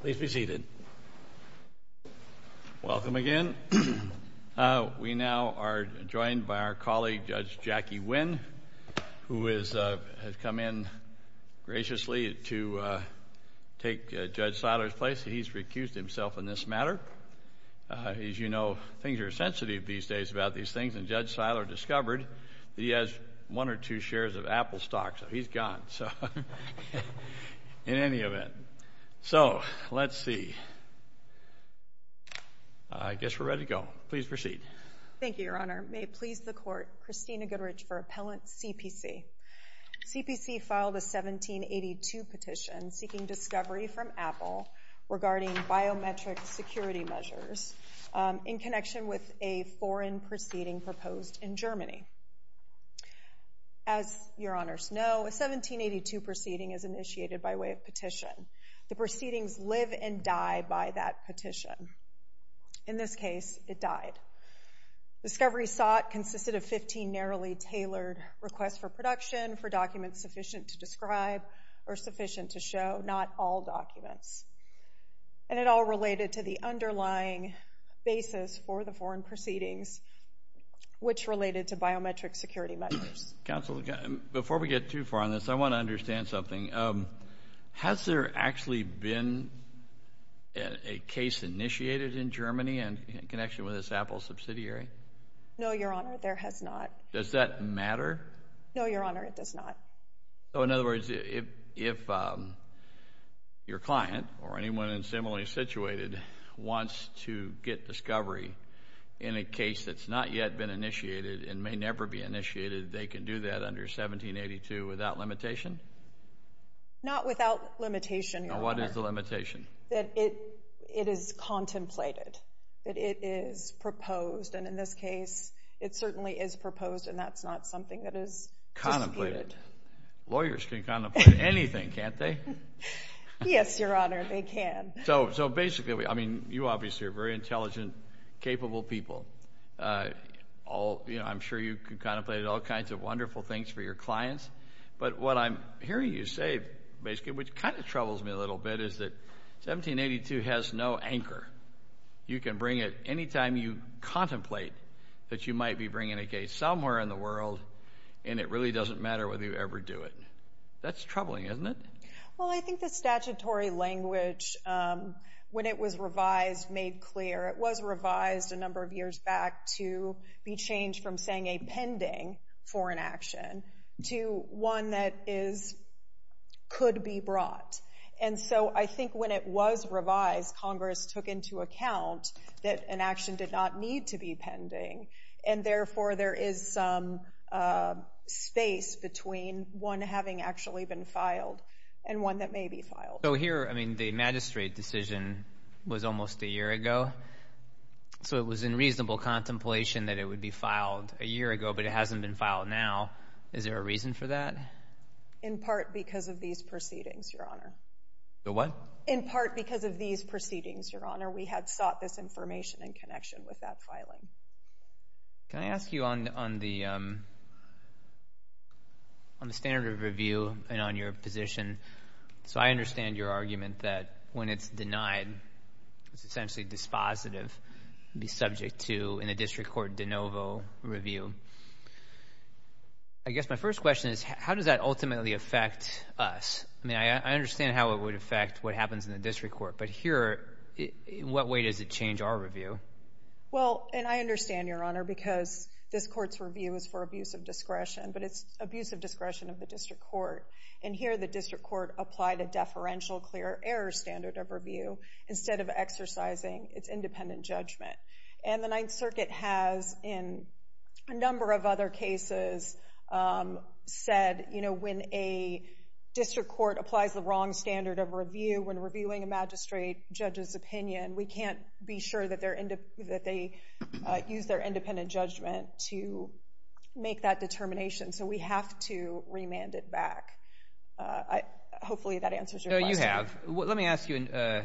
Please be seated. Welcome again. We now are joined by our colleague, Judge Jackie Wynn, who has come in graciously to take Judge Seiler's place. He's recused himself in this matter. As you know, things are sensitive these days about these things, and Judge Seiler discovered that he has one or two shares of Apple stocks, so he's gone in any event. So, let's see. I guess we're ready to go. Please proceed. Thank you, Your Honor. May it please the Court, Christina Goodrich for Appellant CPC. CPC filed a 1782 petition seeking discovery from Apple regarding biometric security measures in connection with a foreign proceeding proposed in Germany. As Your Honors know, a 1782 proceeding is initiated by way of petition. The proceedings live and die by that petition. In this case, it died. Discovery sought consisted of 15 narrowly tailored requests for production for documents sufficient to describe or sufficient to show, not all documents. And it all related to the underlying basis for the foreign proceedings, which related to biometric security measures. Counsel, before we get too far on this, I want to understand something. Has there actually been a case initiated in Germany in connection with this Apple subsidiary? No, Your Honor, there has not. Does that matter? No, Your Honor, it does not. So in other words, if your client or anyone in similarly situated wants to get discovery in a case that's not yet been initiated and may never be initiated, they can do that under 1782 without limitation? Not without limitation, Your Honor. Now, what is the limitation? That it is contemplated, that it is proposed. And in this case, it certainly is proposed, and that's not something that is disputed. Lawyers can contemplate anything, can't they? Yes, Your Honor, they can. So basically, I mean, you obviously are very intelligent, capable people. I'm sure you can contemplate all kinds of wonderful things for your clients. But what I'm hearing you say, basically, which kind of troubles me a little bit, is that 1782 has no anchor. You can bring it any time you contemplate that you might be bringing a case somewhere in the world and it really doesn't matter whether you ever do it. That's troubling, isn't it? Well, I think the statutory language, when it was revised, made clear. It was revised a number of years back to be changed from saying a pending for an action to one that could be brought. And so I think when it was revised, Congress took into account that an action did not need to be pending, and therefore there is some space between one having actually been filed and one that may be filed. So here, I mean, the magistrate decision was almost a year ago, so it was in reasonable contemplation that it would be filed a year ago, but it hasn't been filed now. Is there a reason for that? In part because of these proceedings, Your Honor. The what? In part because of these proceedings, Your Honor. We had sought this information in connection with that filing. Can I ask you on the standard of review and on your position? So I understand your argument that when it's denied, it's essentially dispositive, be subject to in a district court de novo review. I guess my first question is how does that ultimately affect us? I mean, I understand how it would affect what happens in the district court, but here, in what way does it change our review? Well, and I understand, Your Honor, because this court's review is for abuse of discretion, but it's abuse of discretion of the district court, and here the district court applied a deferential clear error standard of review instead of exercising its independent judgment. And the Ninth Circuit has, in a number of other cases, said when a district court applies the wrong standard of review when reviewing a magistrate judge's opinion, we can't be sure that they use their independent judgment to make that determination, so we have to remand it back. Hopefully that answers your question. No, you have. Let me ask you a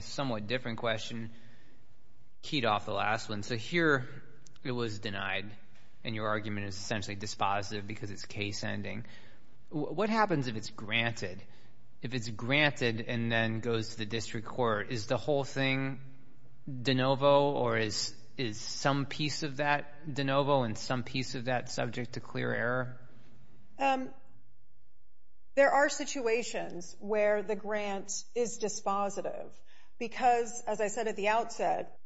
somewhat different question, keyed off the last one. So here it was denied, and your argument is essentially dispositive because it's case ending. What happens if it's granted? If it's granted and then goes to the district court, is the whole thing de novo or is some piece of that de novo and some piece of that subject to clear error? There are situations where the grant is dispositive because, as I said at the outset,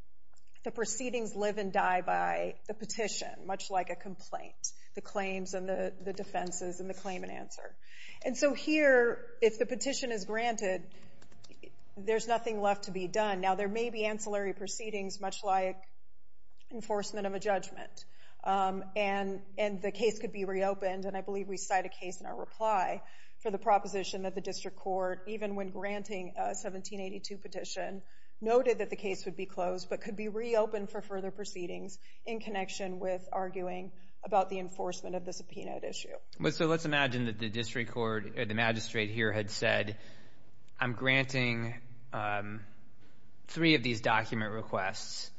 the proceedings live and die by the petition, much like a complaint, the claims and the defenses and the claim and answer. And so here, if the petition is granted, there's nothing left to be done. Now, there may be ancillary proceedings, much like enforcement of a judgment, and the case could be reopened, and I believe we cite a case in our reply for the proposition that the district court, even when granting a 1782 petition, noted that the case would be closed but could be reopened for further proceedings So let's imagine that the district court or the magistrate here had said, I'm granting three of these document requests,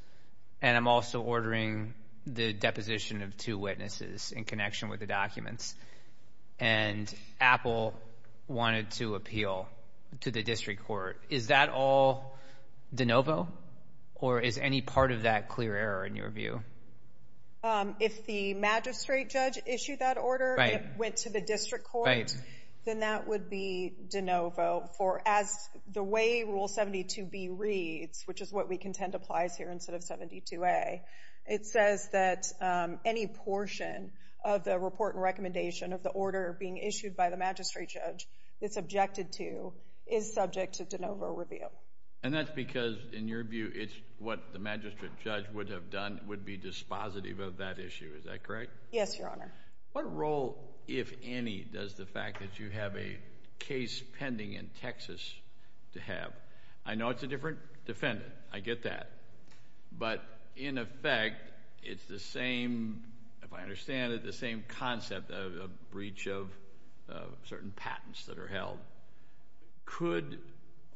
and I'm also ordering the deposition of two witnesses in connection with the documents, and Apple wanted to appeal to the district court. Is that all de novo or is any part of that clear error in your view? If the magistrate judge issued that order and it went to the district court, then that would be de novo. As the way Rule 72B reads, which is what we contend applies here instead of 72A, it says that any portion of the report and recommendation of the order being issued by the magistrate judge it's objected to is subject to de novo review. And that's because, in your view, it's what the magistrate judge would have done would be dispositive of that issue. Is that correct? Yes, Your Honor. What role, if any, does the fact that you have a case pending in Texas have? I know it's a different defendant. I get that. But in effect, it's the same, if I understand it, the same concept of a breach of certain patents that are held. Could,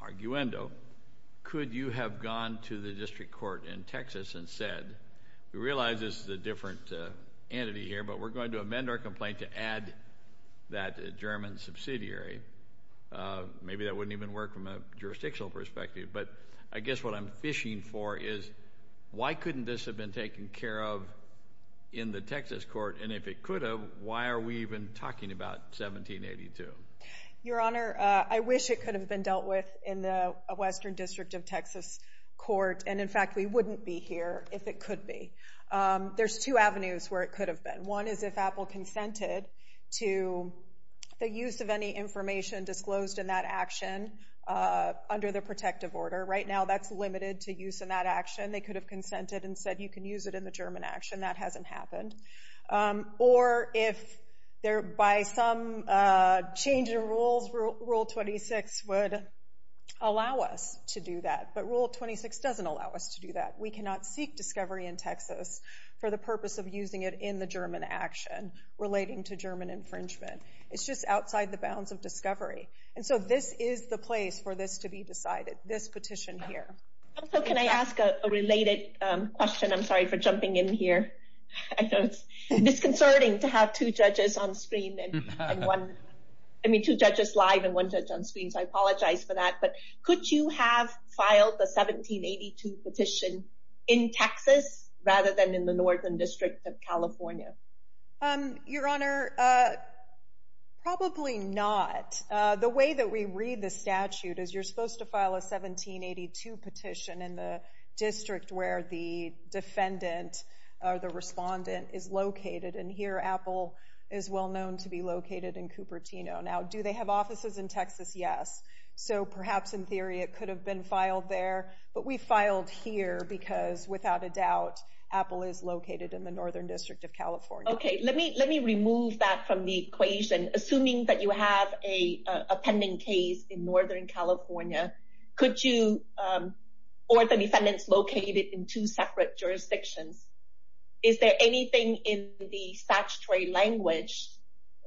arguendo, could you have gone to the district court in Texas and said, we realize this is a different entity here, but we're going to amend our complaint to add that German subsidiary. Maybe that wouldn't even work from a jurisdictional perspective. But I guess what I'm fishing for is why couldn't this have been taken care of in the Texas court? And if it could have, why are we even talking about 1782? Your Honor, I wish it could have been dealt with in the Western District of Texas court. And, in fact, we wouldn't be here if it could be. There's two avenues where it could have been. One is if Apple consented to the use of any information disclosed in that action under the protective order. Right now, that's limited to use in that action. They could have consented and said, you can use it in the German action. That hasn't happened. Or if, by some change of rules, Rule 26 would allow us to do that. But Rule 26 doesn't allow us to do that. We cannot seek discovery in Texas for the purpose of using it in the German action relating to German infringement. It's just outside the bounds of discovery. And so this is the place for this to be decided, this petition here. Also, can I ask a related question? I'm sorry for jumping in here. I know it's disconcerting to have two judges on screen and one – I mean two judges live and one judge on screen. So I apologize for that. But could you have filed a 1782 petition in Texas rather than in the Northern District of California? Your Honor, probably not. The way that we read the statute is you're supposed to file a 1782 petition in the district where the defendant or the respondent is located. And here Apple is well known to be located in Cupertino. Now, do they have offices in Texas? Yes. So perhaps in theory it could have been filed there. But we filed here because, without a doubt, Apple is located in the Northern District of California. Okay. Let me remove that from the equation. Assuming that you have a pending case in Northern California, could you – or the defendant's located in two separate jurisdictions, is there anything in the statutory language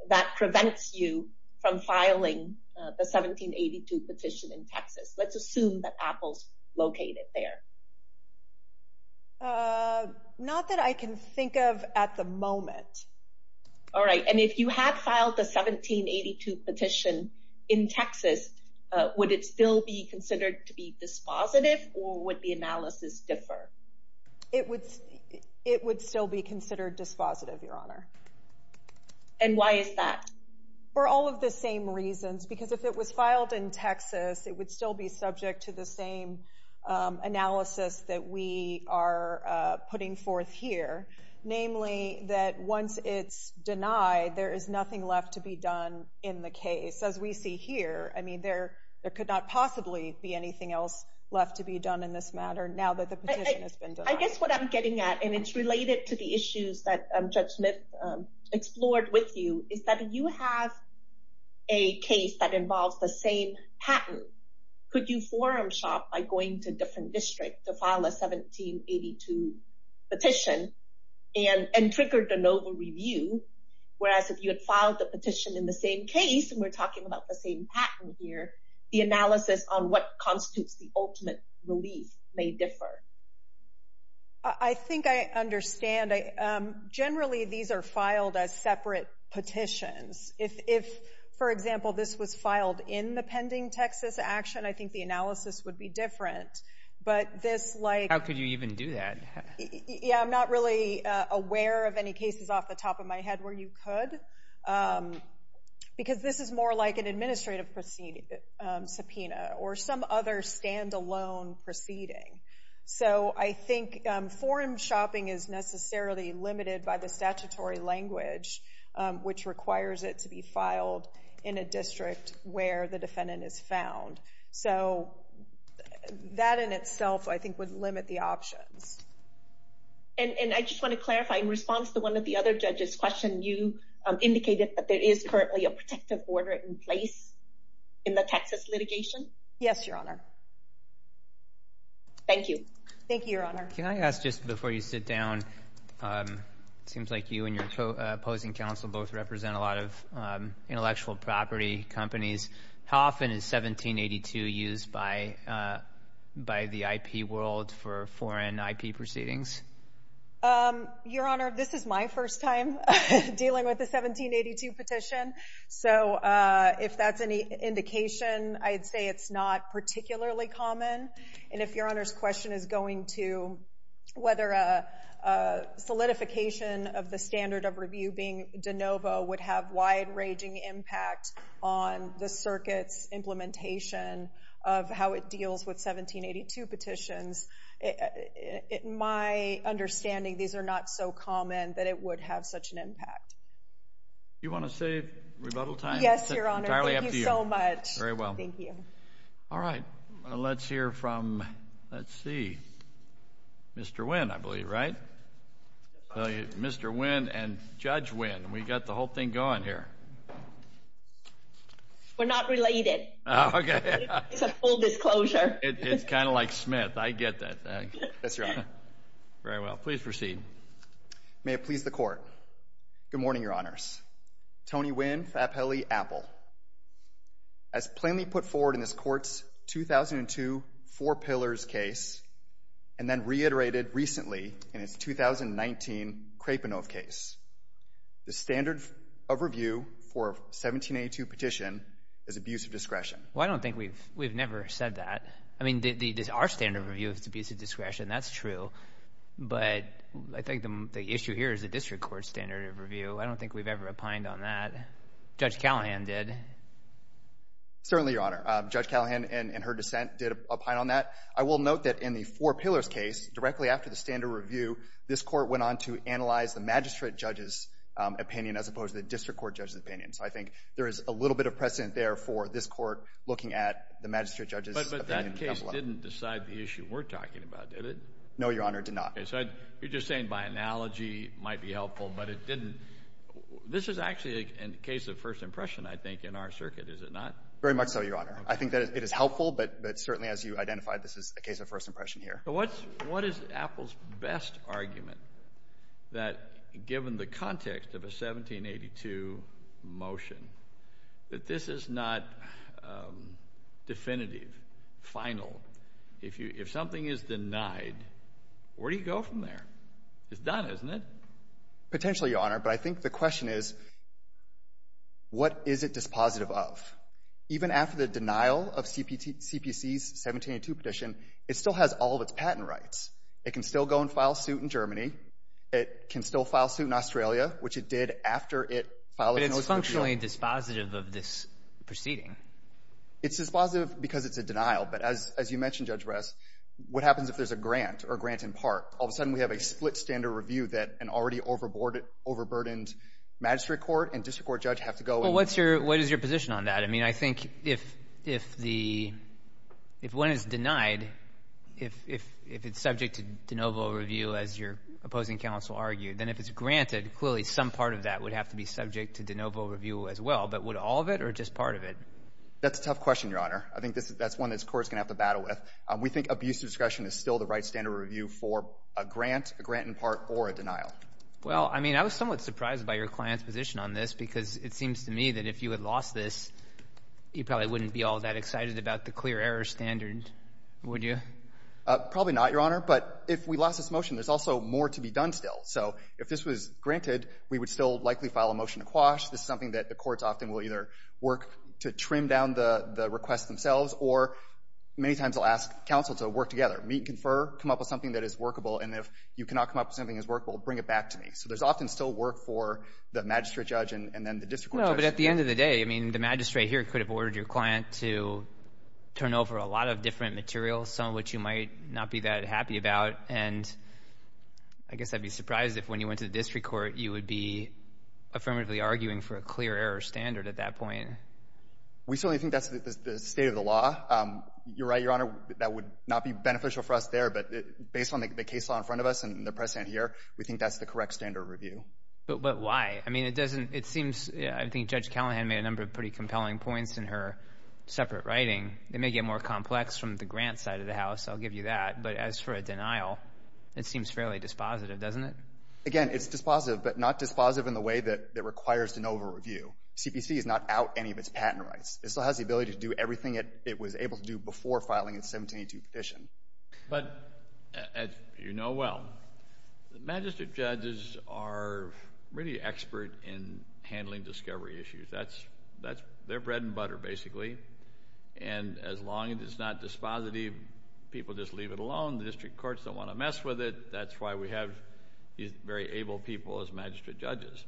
that prevents you from filing the 1782 petition in Texas? Let's assume that Apple's located there. Not that I can think of at the moment. All right. And if you had filed the 1782 petition in Texas, would it still be considered to be dispositive or would the analysis differ? It would still be considered dispositive, Your Honor. And why is that? For all of the same reasons. Because if it was filed in Texas, it would still be subject to the same analysis that we are putting forth here, namely that once it's denied, there is nothing left to be done in the case, as we see here. I mean, there could not possibly be anything else left to be done in this matter now that the petition has been denied. I guess what I'm getting at, and it's related to the issues that Judge Smith explored with you, is that if you have a case that involves the same patent, could you forum shop by going to a different district to file a 1782 petition and trigger de novo review? Whereas if you had filed the petition in the same case, and we're talking about the same patent here, the analysis on what constitutes the ultimate relief may differ. I think I understand. Generally, these are filed as separate petitions. If, for example, this was filed in the pending Texas action, I think the analysis would be different. How could you even do that? Yeah, I'm not really aware of any cases off the top of my head where you could, because this is more like an administrative subpoena or some other stand-alone proceeding. So I think forum shopping is necessarily limited by the statutory language, which requires it to be filed in a district where the defendant is found. So that in itself, I think, would limit the options. And I just want to clarify, in response to one of the other judges' questions, you indicated that there is currently a protective order in place in the Texas litigation? Yes, Your Honor. Thank you. Thank you, Your Honor. Can I ask, just before you sit down, it seems like you and your opposing counsel both represent a lot of intellectual property companies. How often is 1782 used by the IP world for foreign IP proceedings? Your Honor, this is my first time dealing with a 1782 petition. So if that's any indication, I'd say it's not particularly common. And if Your Honor's question is going to whether a solidification of the standard of review being de novo would have wide-ranging impact on the circuit's implementation of how it deals with 1782 petitions, my understanding, these are not so common that it would have such an impact. Do you want to say rebuttal time? Yes, Your Honor. Entirely up to you. Thank you so much. Very well. Thank you. All right. Let's hear from, let's see, Mr. Wynn, I believe, right? Mr. Wynn and Judge Wynn. We've got the whole thing going here. We're not related. Okay. It's a full disclosure. It's kind of like Smith. I get that. Yes, Your Honor. Very well. Please proceed. May it please the Court. Good morning, Your Honors. Tony Wynn, Fappelli, Apple. As plainly put forward in this Court's 2002 Four Pillars case and then reiterated recently in its 2019 Krapinov case, the standard of review for a 1782 petition is abuse of discretion. Well, I don't think we've never said that. I mean, there's our standard of review is abuse of discretion. That's true. But I think the issue here is the district court standard of review. I don't think we've ever opined on that. Judge Callahan did. Certainly, Your Honor. Judge Callahan in her dissent did opine on that. I will note that in the Four Pillars case, directly after the standard review, this Court went on to analyze the magistrate judge's opinion as opposed to the district court judge's opinion. So I think there is a little bit of precedent there for this Court looking at the magistrate judge's opinion. But that case didn't decide the issue we're talking about, did it? No, Your Honor, it did not. So you're just saying by analogy it might be helpful, but it didn't. This is actually a case of first impression, I think, in our circuit, is it not? Very much so, Your Honor. I think that it is helpful, but certainly as you identified, this is a case of first impression here. What is Apple's best argument that given the context of a 1782 motion that this is not definitive, final? If something is denied, where do you go from there? It's done, isn't it? Potentially, Your Honor. But I think the question is, what is it dispositive of? Even after the denial of CPC's 1782 petition, it still has all of its patent rights. It can still go and file suit in Germany. It can still file suit in Australia, which it did after it filed its motion. But it's functionally dispositive of this proceeding. It's dispositive because it's a denial. But as you mentioned, Judge Bress, what happens if there's a grant or a grant in part? All of a sudden, we have a split standard review that an already overburdened magistrate court and district court judge have to go. Well, what is your position on that? I mean, I think if one is denied, if it's subject to de novo review, as your opposing counsel argued, then if it's granted, clearly some part of that would have to be subject to de novo review as well. But would all of it or just part of it? That's a tough question, Your Honor. I think that's one this court is going to have to battle with. We think abuse of discretion is still the right standard review for a grant, a grant in part, or a denial. Well, I mean, I was somewhat surprised by your client's position on this because it seems to me that if you had lost this, you probably wouldn't be all that excited about the clear error standard, would you? Probably not, Your Honor. But if we lost this motion, there's also more to be done still. So if this was granted, we would still likely file a motion to quash. This is something that the courts often will either work to trim down the requests themselves or many times they'll ask counsel to work together, meet and confer, come up with something that is workable, and if you cannot come up with something that is workable, bring it back to me. So there's often still work for the magistrate judge and then the district court judge. No, but at the end of the day, I mean, the magistrate here could have ordered your client to turn over a lot of different materials, some of which you might not be that happy about. And I guess I'd be surprised if when you went to the district court, you would be affirmatively arguing for a clear error standard at that point. We certainly think that's the state of the law. You're right, Your Honor, that would not be beneficial for us there, but based on the case law in front of us and the precedent here, we think that's the correct standard review. But why? I mean, it seems I think Judge Callahan made a number of pretty compelling points in her separate writing. It may get more complex from the grant side of the house, I'll give you that, but as for a denial, it seems fairly dispositive, doesn't it? Again, it's dispositive, but not dispositive in the way that it requires to know of a review. CPC is not out any of its patent rights. It still has the ability to do everything it was able to do before filing its 1782 petition. But as you know well, magistrate judges are really expert in handling discovery issues. They're bread and butter, basically. And as long as it's not dispositive, people just leave it alone. The district courts don't want to mess with it. That's why we have these very able people as magistrate judges.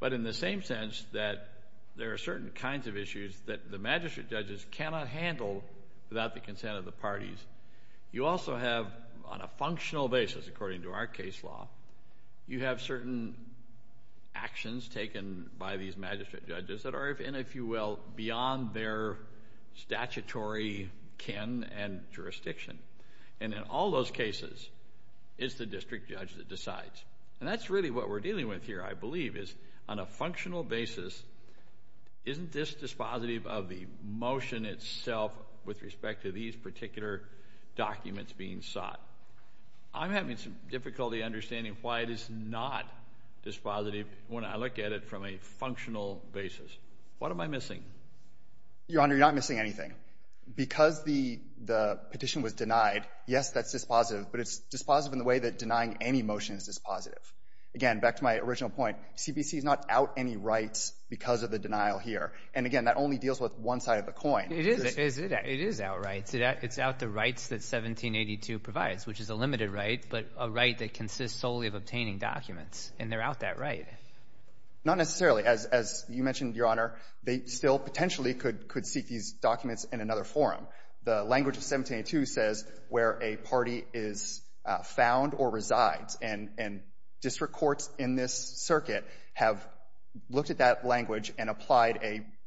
But in the same sense that there are certain kinds of issues that the magistrate judges cannot handle without the consent of the parties, you also have on a functional basis, according to our case law, you have certain actions taken by these magistrate judges that are, if you will, beyond their statutory kin and jurisdiction. And in all those cases, it's the district judge that decides. And that's really what we're dealing with here, I believe, is on a functional basis, isn't this dispositive of the motion itself with respect to these particular documents being sought? I'm having some difficulty understanding why it is not dispositive when I look at it from a functional basis. What am I missing? Your Honor, you're not missing anything. Because the petition was denied, yes, that's dispositive, but it's dispositive in the way that denying any motion is dispositive. Again, back to my original point, CPC is not out any rights because of the denial here. And again, that only deals with one side of the coin. It is out rights. It's out the rights that 1782 provides, which is a limited right, but a right that consists solely of obtaining documents, and they're out that right. Not necessarily. As you mentioned, Your Honor, they still potentially could seek these documents in another forum. The language of 1782 says where a party is found or resides, and district courts in this circuit have looked at that language and applied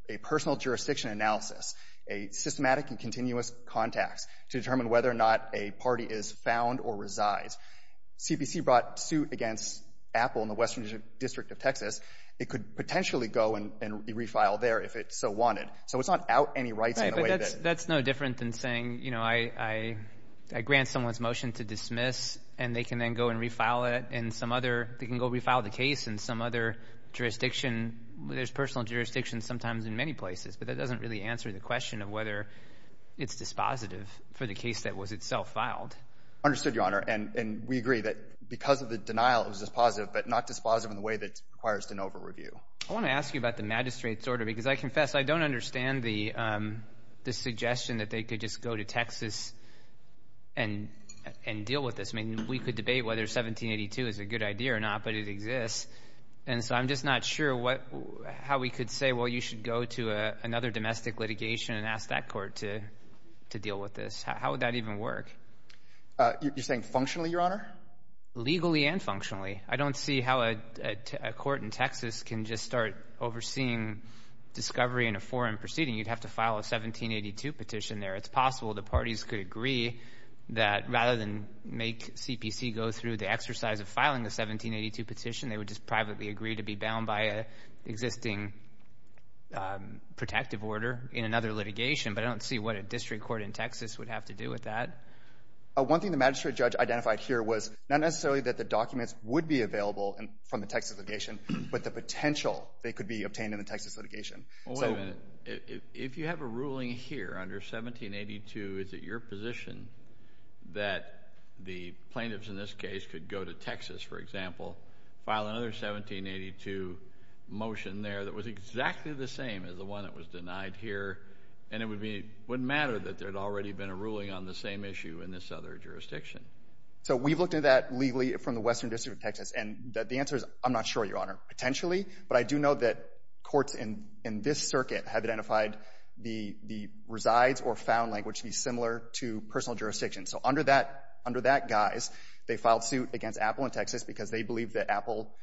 a personal jurisdiction analysis, a systematic and continuous contacts, to determine whether or not a party is found or resides. CPC brought suit against Apple in the Western District of Texas. It could potentially go and be refiled there if it so wanted. So it's not out any rights in the way that— Right, but that's no different than saying, you know, I grant someone's motion to dismiss, and they can then go and refile it in some other— they can go refile the case in some other jurisdiction. There's personal jurisdictions sometimes in many places, but that doesn't really answer the question of whether it's dispositive for the case that was itself filed. Understood, Your Honor. And we agree that because of the denial, it was dispositive, but not dispositive in the way that requires de novo review. I want to ask you about the magistrate's order because I confess I don't understand the suggestion that they could just go to Texas and deal with this. I mean, we could debate whether 1782 is a good idea or not, but it exists. And so I'm just not sure how we could say, well, you should go to another domestic litigation and ask that court to deal with this. How would that even work? You're saying functionally, Your Honor? Legally and functionally. I don't see how a court in Texas can just start overseeing discovery in a foreign proceeding. You'd have to file a 1782 petition there. It's possible the parties could agree that rather than make CPC go through the exercise of filing a 1782 petition, they would just privately agree to be bound by an existing protective order in another litigation, but I don't see what a district court in Texas would have to do with that. One thing the magistrate judge identified here was not necessarily that the documents would be available from the Texas litigation, but the potential they could be obtained in the Texas litigation. Well, wait a minute. If you have a ruling here under 1782, is it your position that the plaintiffs in this case could go to Texas, for example, file another 1782 motion there that was exactly the same as the one that was denied here, and it wouldn't matter that there had already been a ruling on the same issue in this other jurisdiction? So we've looked at that legally from the Western District of Texas, and the answer is I'm not sure, Your Honor, potentially, but I do know that courts in this circuit have identified the resides or found language to be similar to personal jurisdiction. So under that guise, they filed suit against Apple in Texas because they believed that Apple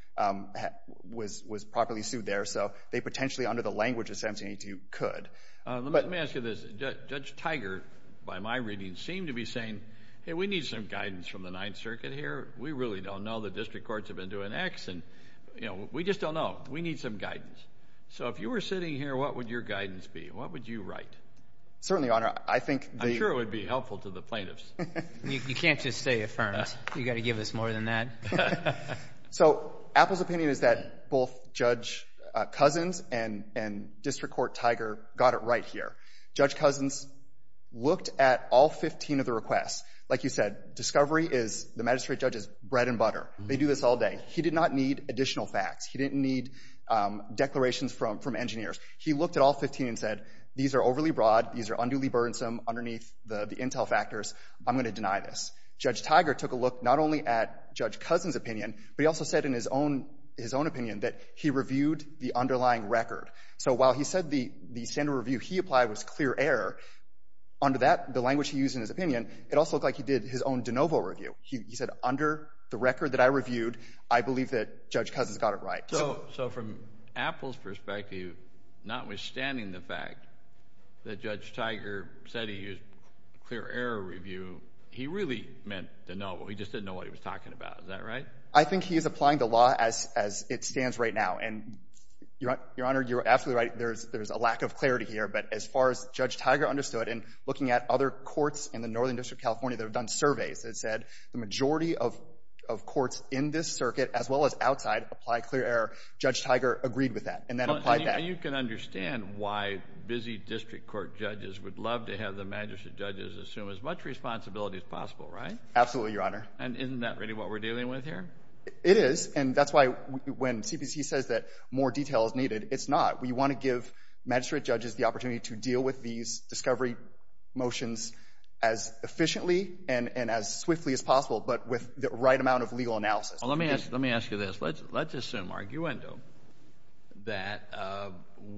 was properly sued there, so they potentially under the language of 1782 could. Let me ask you this. Judge Tiger, by my reading, seemed to be saying, hey, we need some guidance from the Ninth Circuit here. We really don't know. The district courts have been doing X, and we just don't know. We need some guidance. So if you were sitting here, what would your guidance be? What would you write? Certainly, Your Honor. I'm sure it would be helpful to the plaintiffs. You can't just say affirmed. You've got to give us more than that. So Apple's opinion is that both Judge Cousins and District Court Tiger got it right here. Judge Cousins looked at all 15 of the requests. Like you said, discovery is the magistrate judge's bread and butter. They do this all day. He did not need additional facts. He didn't need declarations from engineers. He looked at all 15 and said, these are overly broad. These are unduly burdensome underneath the intel factors. I'm going to deny this. Judge Tiger took a look not only at Judge Cousins' opinion, but he also said in his own opinion that he reviewed the underlying record. So while he said the standard review he applied was clear error, under that, the language he used in his opinion, it also looked like he did his own de novo review. He said, under the record that I reviewed, I believe that Judge Cousins got it right. So from Apple's perspective, notwithstanding the fact that Judge Tiger said he used clear error review, he really meant de novo. He just didn't know what he was talking about. Is that right? I think he is applying the law as it stands right now. And, Your Honor, you're absolutely right. There's a lack of clarity here. But as far as Judge Tiger understood, in looking at other courts in the Northern District of California that have done surveys, it said the majority of courts in this circuit as well as outside apply clear error. Judge Tiger agreed with that and then applied that. You can understand why busy district court judges would love to have the magistrate judges assume as much responsibility as possible, right? Absolutely, Your Honor. And isn't that really what we're dealing with here? It is. And that's why when CPC says that more detail is needed, it's not. We want to give magistrate judges the opportunity to deal with these discovery motions as efficiently and as swiftly as possible but with the right amount of legal analysis. Let me ask you this. Let's assume, arguendo, that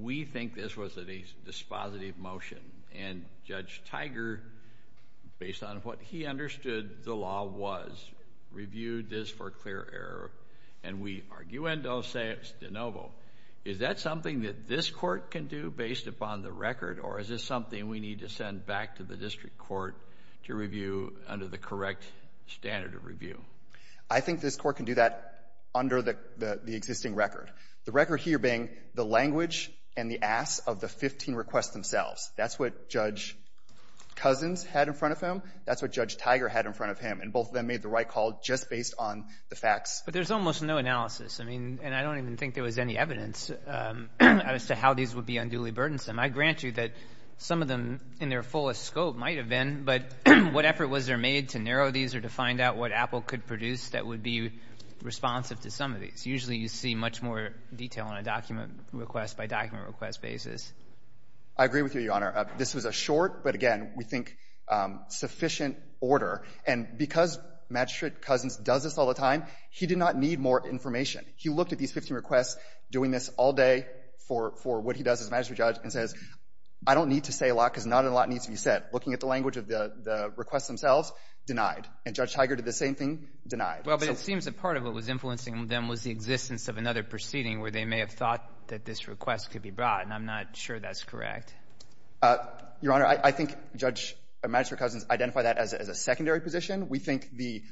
we think this was a dispositive motion and Judge Tiger, based on what he understood the law was, reviewed this for clear error and we arguendo say it's de novo. Is that something that this court can do based upon the record or is this something we need to send back to the district court to review under the correct standard of review? I think this court can do that under the existing record. The record here being the language and the asks of the 15 requests themselves. That's what Judge Cousins had in front of him. That's what Judge Tiger had in front of him. And both of them made the right call just based on the facts. But there's almost no analysis. I mean, and I don't even think there was any evidence as to how these would be unduly burdensome. I grant you that some of them in their fullest scope might have been, but what effort was there made to narrow these or to find out what Apple could produce that would be responsive to some of these? Usually you see much more detail on a document request by document request basis. I agree with you, Your Honor. This was a short but, again, we think sufficient order. And because Magistrate Cousins does this all the time, he did not need more information. He looked at these 15 requests doing this all day for what he does as a magistrate judge and says I don't need to say a lot because not a lot needs to be said. Looking at the language of the requests themselves, denied. And Judge Tiger did the same thing, denied. Well, but it seems that part of what was influencing them was the existence of another proceeding where they may have thought that this request could be brought, and I'm not sure that's correct. Your Honor, I think Judge Magistrate Cousins identified that as a secondary position. We think the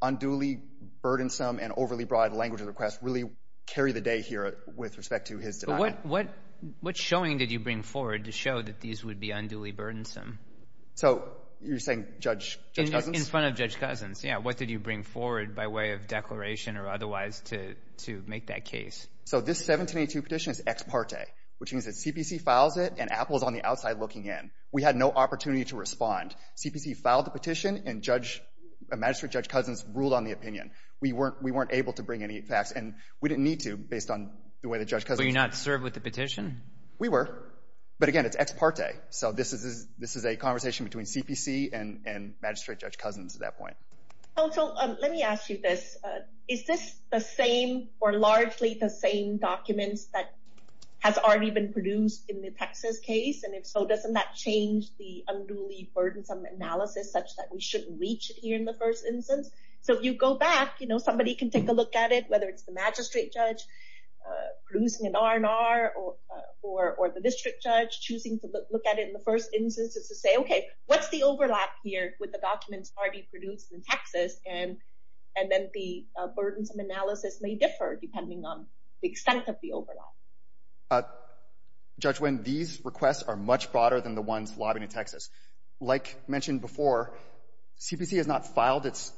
unduly burdensome and overly broad language of the request really carried the day here with respect to his denial. But what showing did you bring forward to show that these would be unduly burdensome? So you're saying Judge Cousins? In front of Judge Cousins, yeah. What did you bring forward by way of declaration or otherwise to make that case? So this 1782 petition is ex parte, which means that CPC files it and Apple is on the outside looking in. We had no opportunity to respond. CPC filed the petition, and Magistrate Judge Cousins ruled on the opinion. We weren't able to bring any facts, and we didn't need to based on the way that Judge Cousins Were you not served with the petition? We were. But again, it's ex parte. So this is a conversation between CPC and Magistrate Judge Cousins at that point. Oh, so let me ask you this. Is this the same or largely the same documents that has already been produced in the Texas case? And if so, doesn't that change the unduly burdensome analysis such that we shouldn't reach it here in the first instance? So if you go back, you know, somebody can take a look at it, whether it's the magistrate judge producing an R&R or the district judge choosing to look at it in the first instance to say, Okay, what's the overlap here with the documents already produced in Texas? And then the burdensome analysis may differ depending on the extent of the overlap. Judge Nguyen, these requests are much broader than the ones lobbied in Texas. Like mentioned before, CPC has not filed its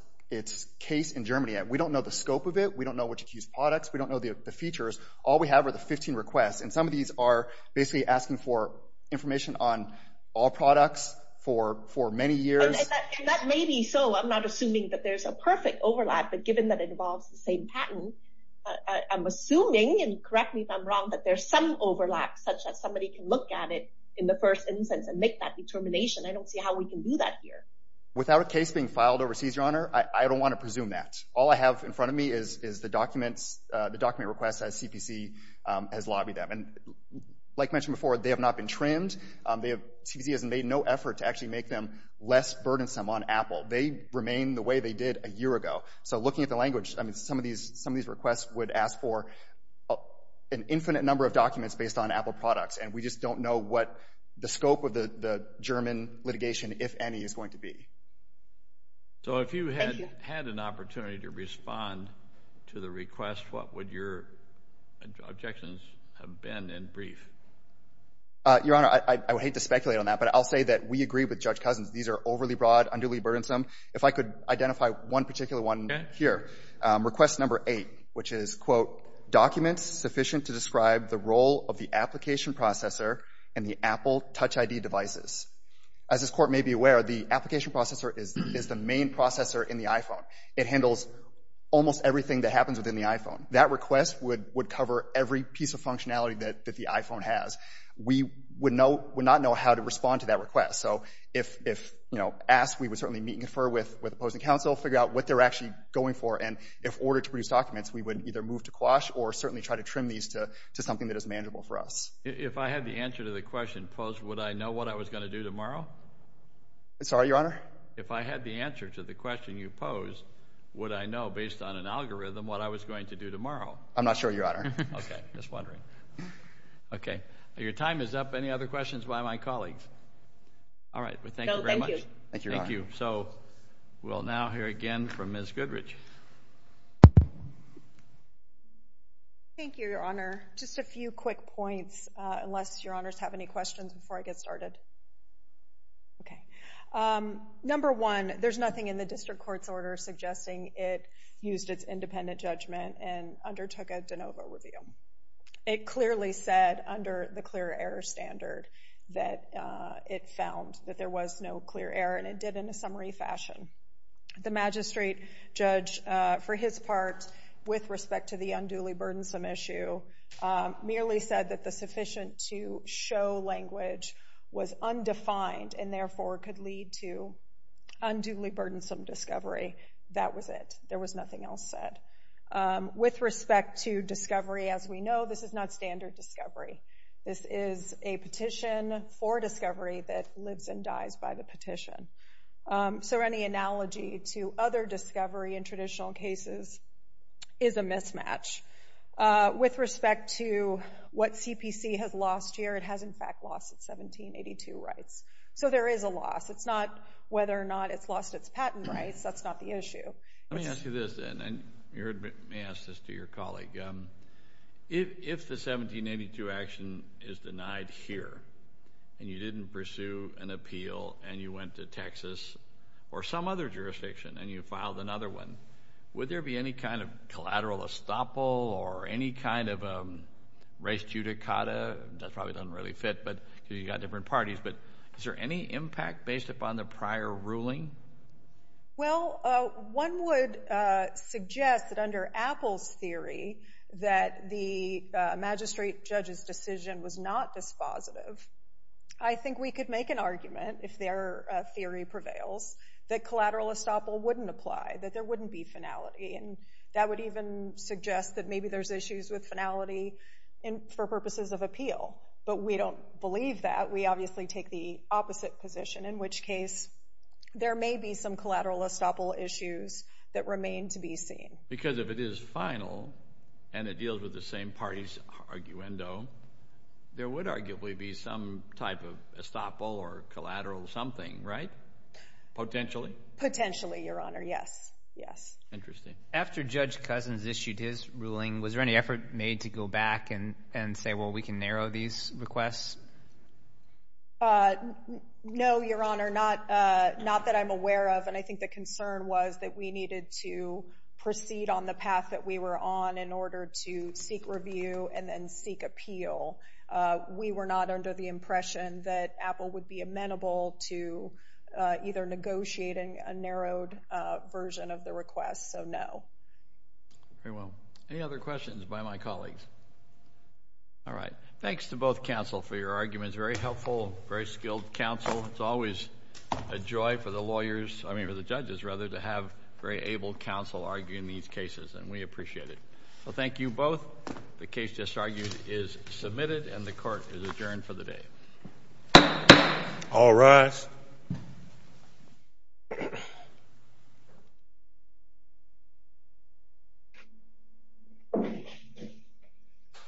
case in Germany. We don't know the scope of it. We don't know which accused products. We don't know the features. All we have are the 15 requests. And some of these are basically asking for information on all products for many years. And that may be so. I'm not assuming that there's a perfect overlap. But given that it involves the same patent, I'm assuming, and correct me if I'm wrong, that there's some overlap such that somebody can look at it in the first instance and make that determination. I don't see how we can do that here. Without a case being filed overseas, Your Honor, I don't want to presume that. All I have in front of me is the document requests as CPC has lobbied them. And like mentioned before, they have not been trimmed. CPC has made no effort to actually make them less burdensome on Apple. They remain the way they did a year ago. So looking at the language, some of these requests would ask for an infinite number of documents based on Apple products. And we just don't know what the scope of the German litigation, if any, is going to be. So if you had an opportunity to respond to the request, what would your objections have been in brief? Your Honor, I would hate to speculate on that, but I'll say that we agree with Judge Cousins. These are overly broad, underly burdensome. If I could identify one particular one here, request number eight, which is, quote, documents sufficient to describe the role of the application processor in the Apple Touch ID devices. As this Court may be aware, the application processor is the main processor in the iPhone. It handles almost everything that happens within the iPhone. That request would cover every piece of functionality that the iPhone has. We would not know how to respond to that request. So if asked, we would certainly meet and confer with the opposing counsel, figure out what they're actually going for. And if ordered to produce documents, we would either move to quash or certainly try to trim these to something that is manageable for us. If I had the answer to the question posed, would I know what I was going to do tomorrow? Sorry, Your Honor? If I had the answer to the question you posed, would I know, based on an algorithm, what I was going to do tomorrow? I'm not sure, Your Honor. Okay. Just wondering. Okay. Your time is up. Any other questions by my colleagues? All right. Well, thank you very much. Thank you, Your Honor. Thank you. So we'll now hear again from Ms. Goodrich. Thank you, Your Honor. Just a few quick points, unless Your Honors have any questions before I get started. Okay. Number one, there's nothing in the district court's order suggesting it used its independent judgment and undertook a de novo review. It clearly said under the clear error standard that it found that there was no clear error, and it did in a summary fashion. The magistrate judge, for his part, with respect to the unduly burdensome issue, merely said that the sufficient to show language was undefined and therefore could lead to unduly burdensome discovery. That was it. There was nothing else said. With respect to discovery, as we know, this is not standard discovery. This is a petition for discovery that lives and dies by the petition. So any analogy to other discovery in traditional cases is a mismatch. With respect to what CPC has lost here, it has, in fact, lost its 1782 rights. So there is a loss. It's not whether or not it's lost its patent rights. That's not the issue. Let me ask you this, then, and you may ask this to your colleague. If the 1782 action is denied here and you didn't pursue an appeal and you went to Texas or some other jurisdiction and you filed another one, would there be any kind of collateral estoppel or any kind of res judicata? That probably doesn't really fit because you've got different parties. But is there any impact based upon the prior ruling? Well, one would suggest that under Apple's theory that the magistrate judge's decision was not this positive. I think we could make an argument, if their theory prevails, that collateral estoppel wouldn't apply, that there wouldn't be finality, and that would even suggest that maybe there's issues with finality for purposes of appeal. But we don't believe that. We obviously take the opposite position, in which case there may be some collateral estoppel issues that remain to be seen. Because if it is final and it deals with the same party's arguendo, there would arguably be some type of estoppel or collateral something, right? Potentially? Potentially, Your Honor, yes. Yes. Interesting. After Judge Cousins issued his ruling, was there any effort made to go back and say, well, we can narrow these requests? No, Your Honor, not that I'm aware of. And I think the concern was that we needed to proceed on the path that we were on in order to seek review and then seek appeal. We were not under the impression that Apple would be amenable to either negotiating a narrowed version of the request, so no. Very well. Any other questions by my colleagues? All right. Thanks to both counsel for your arguments. Very helpful, very skilled counsel. It's always a joy for the lawyers, I mean, for the judges, rather, to have very able counsel argue in these cases, and we appreciate it. Well, thank you both. The case, as argued, is submitted and the court is adjourned for the day. All rise.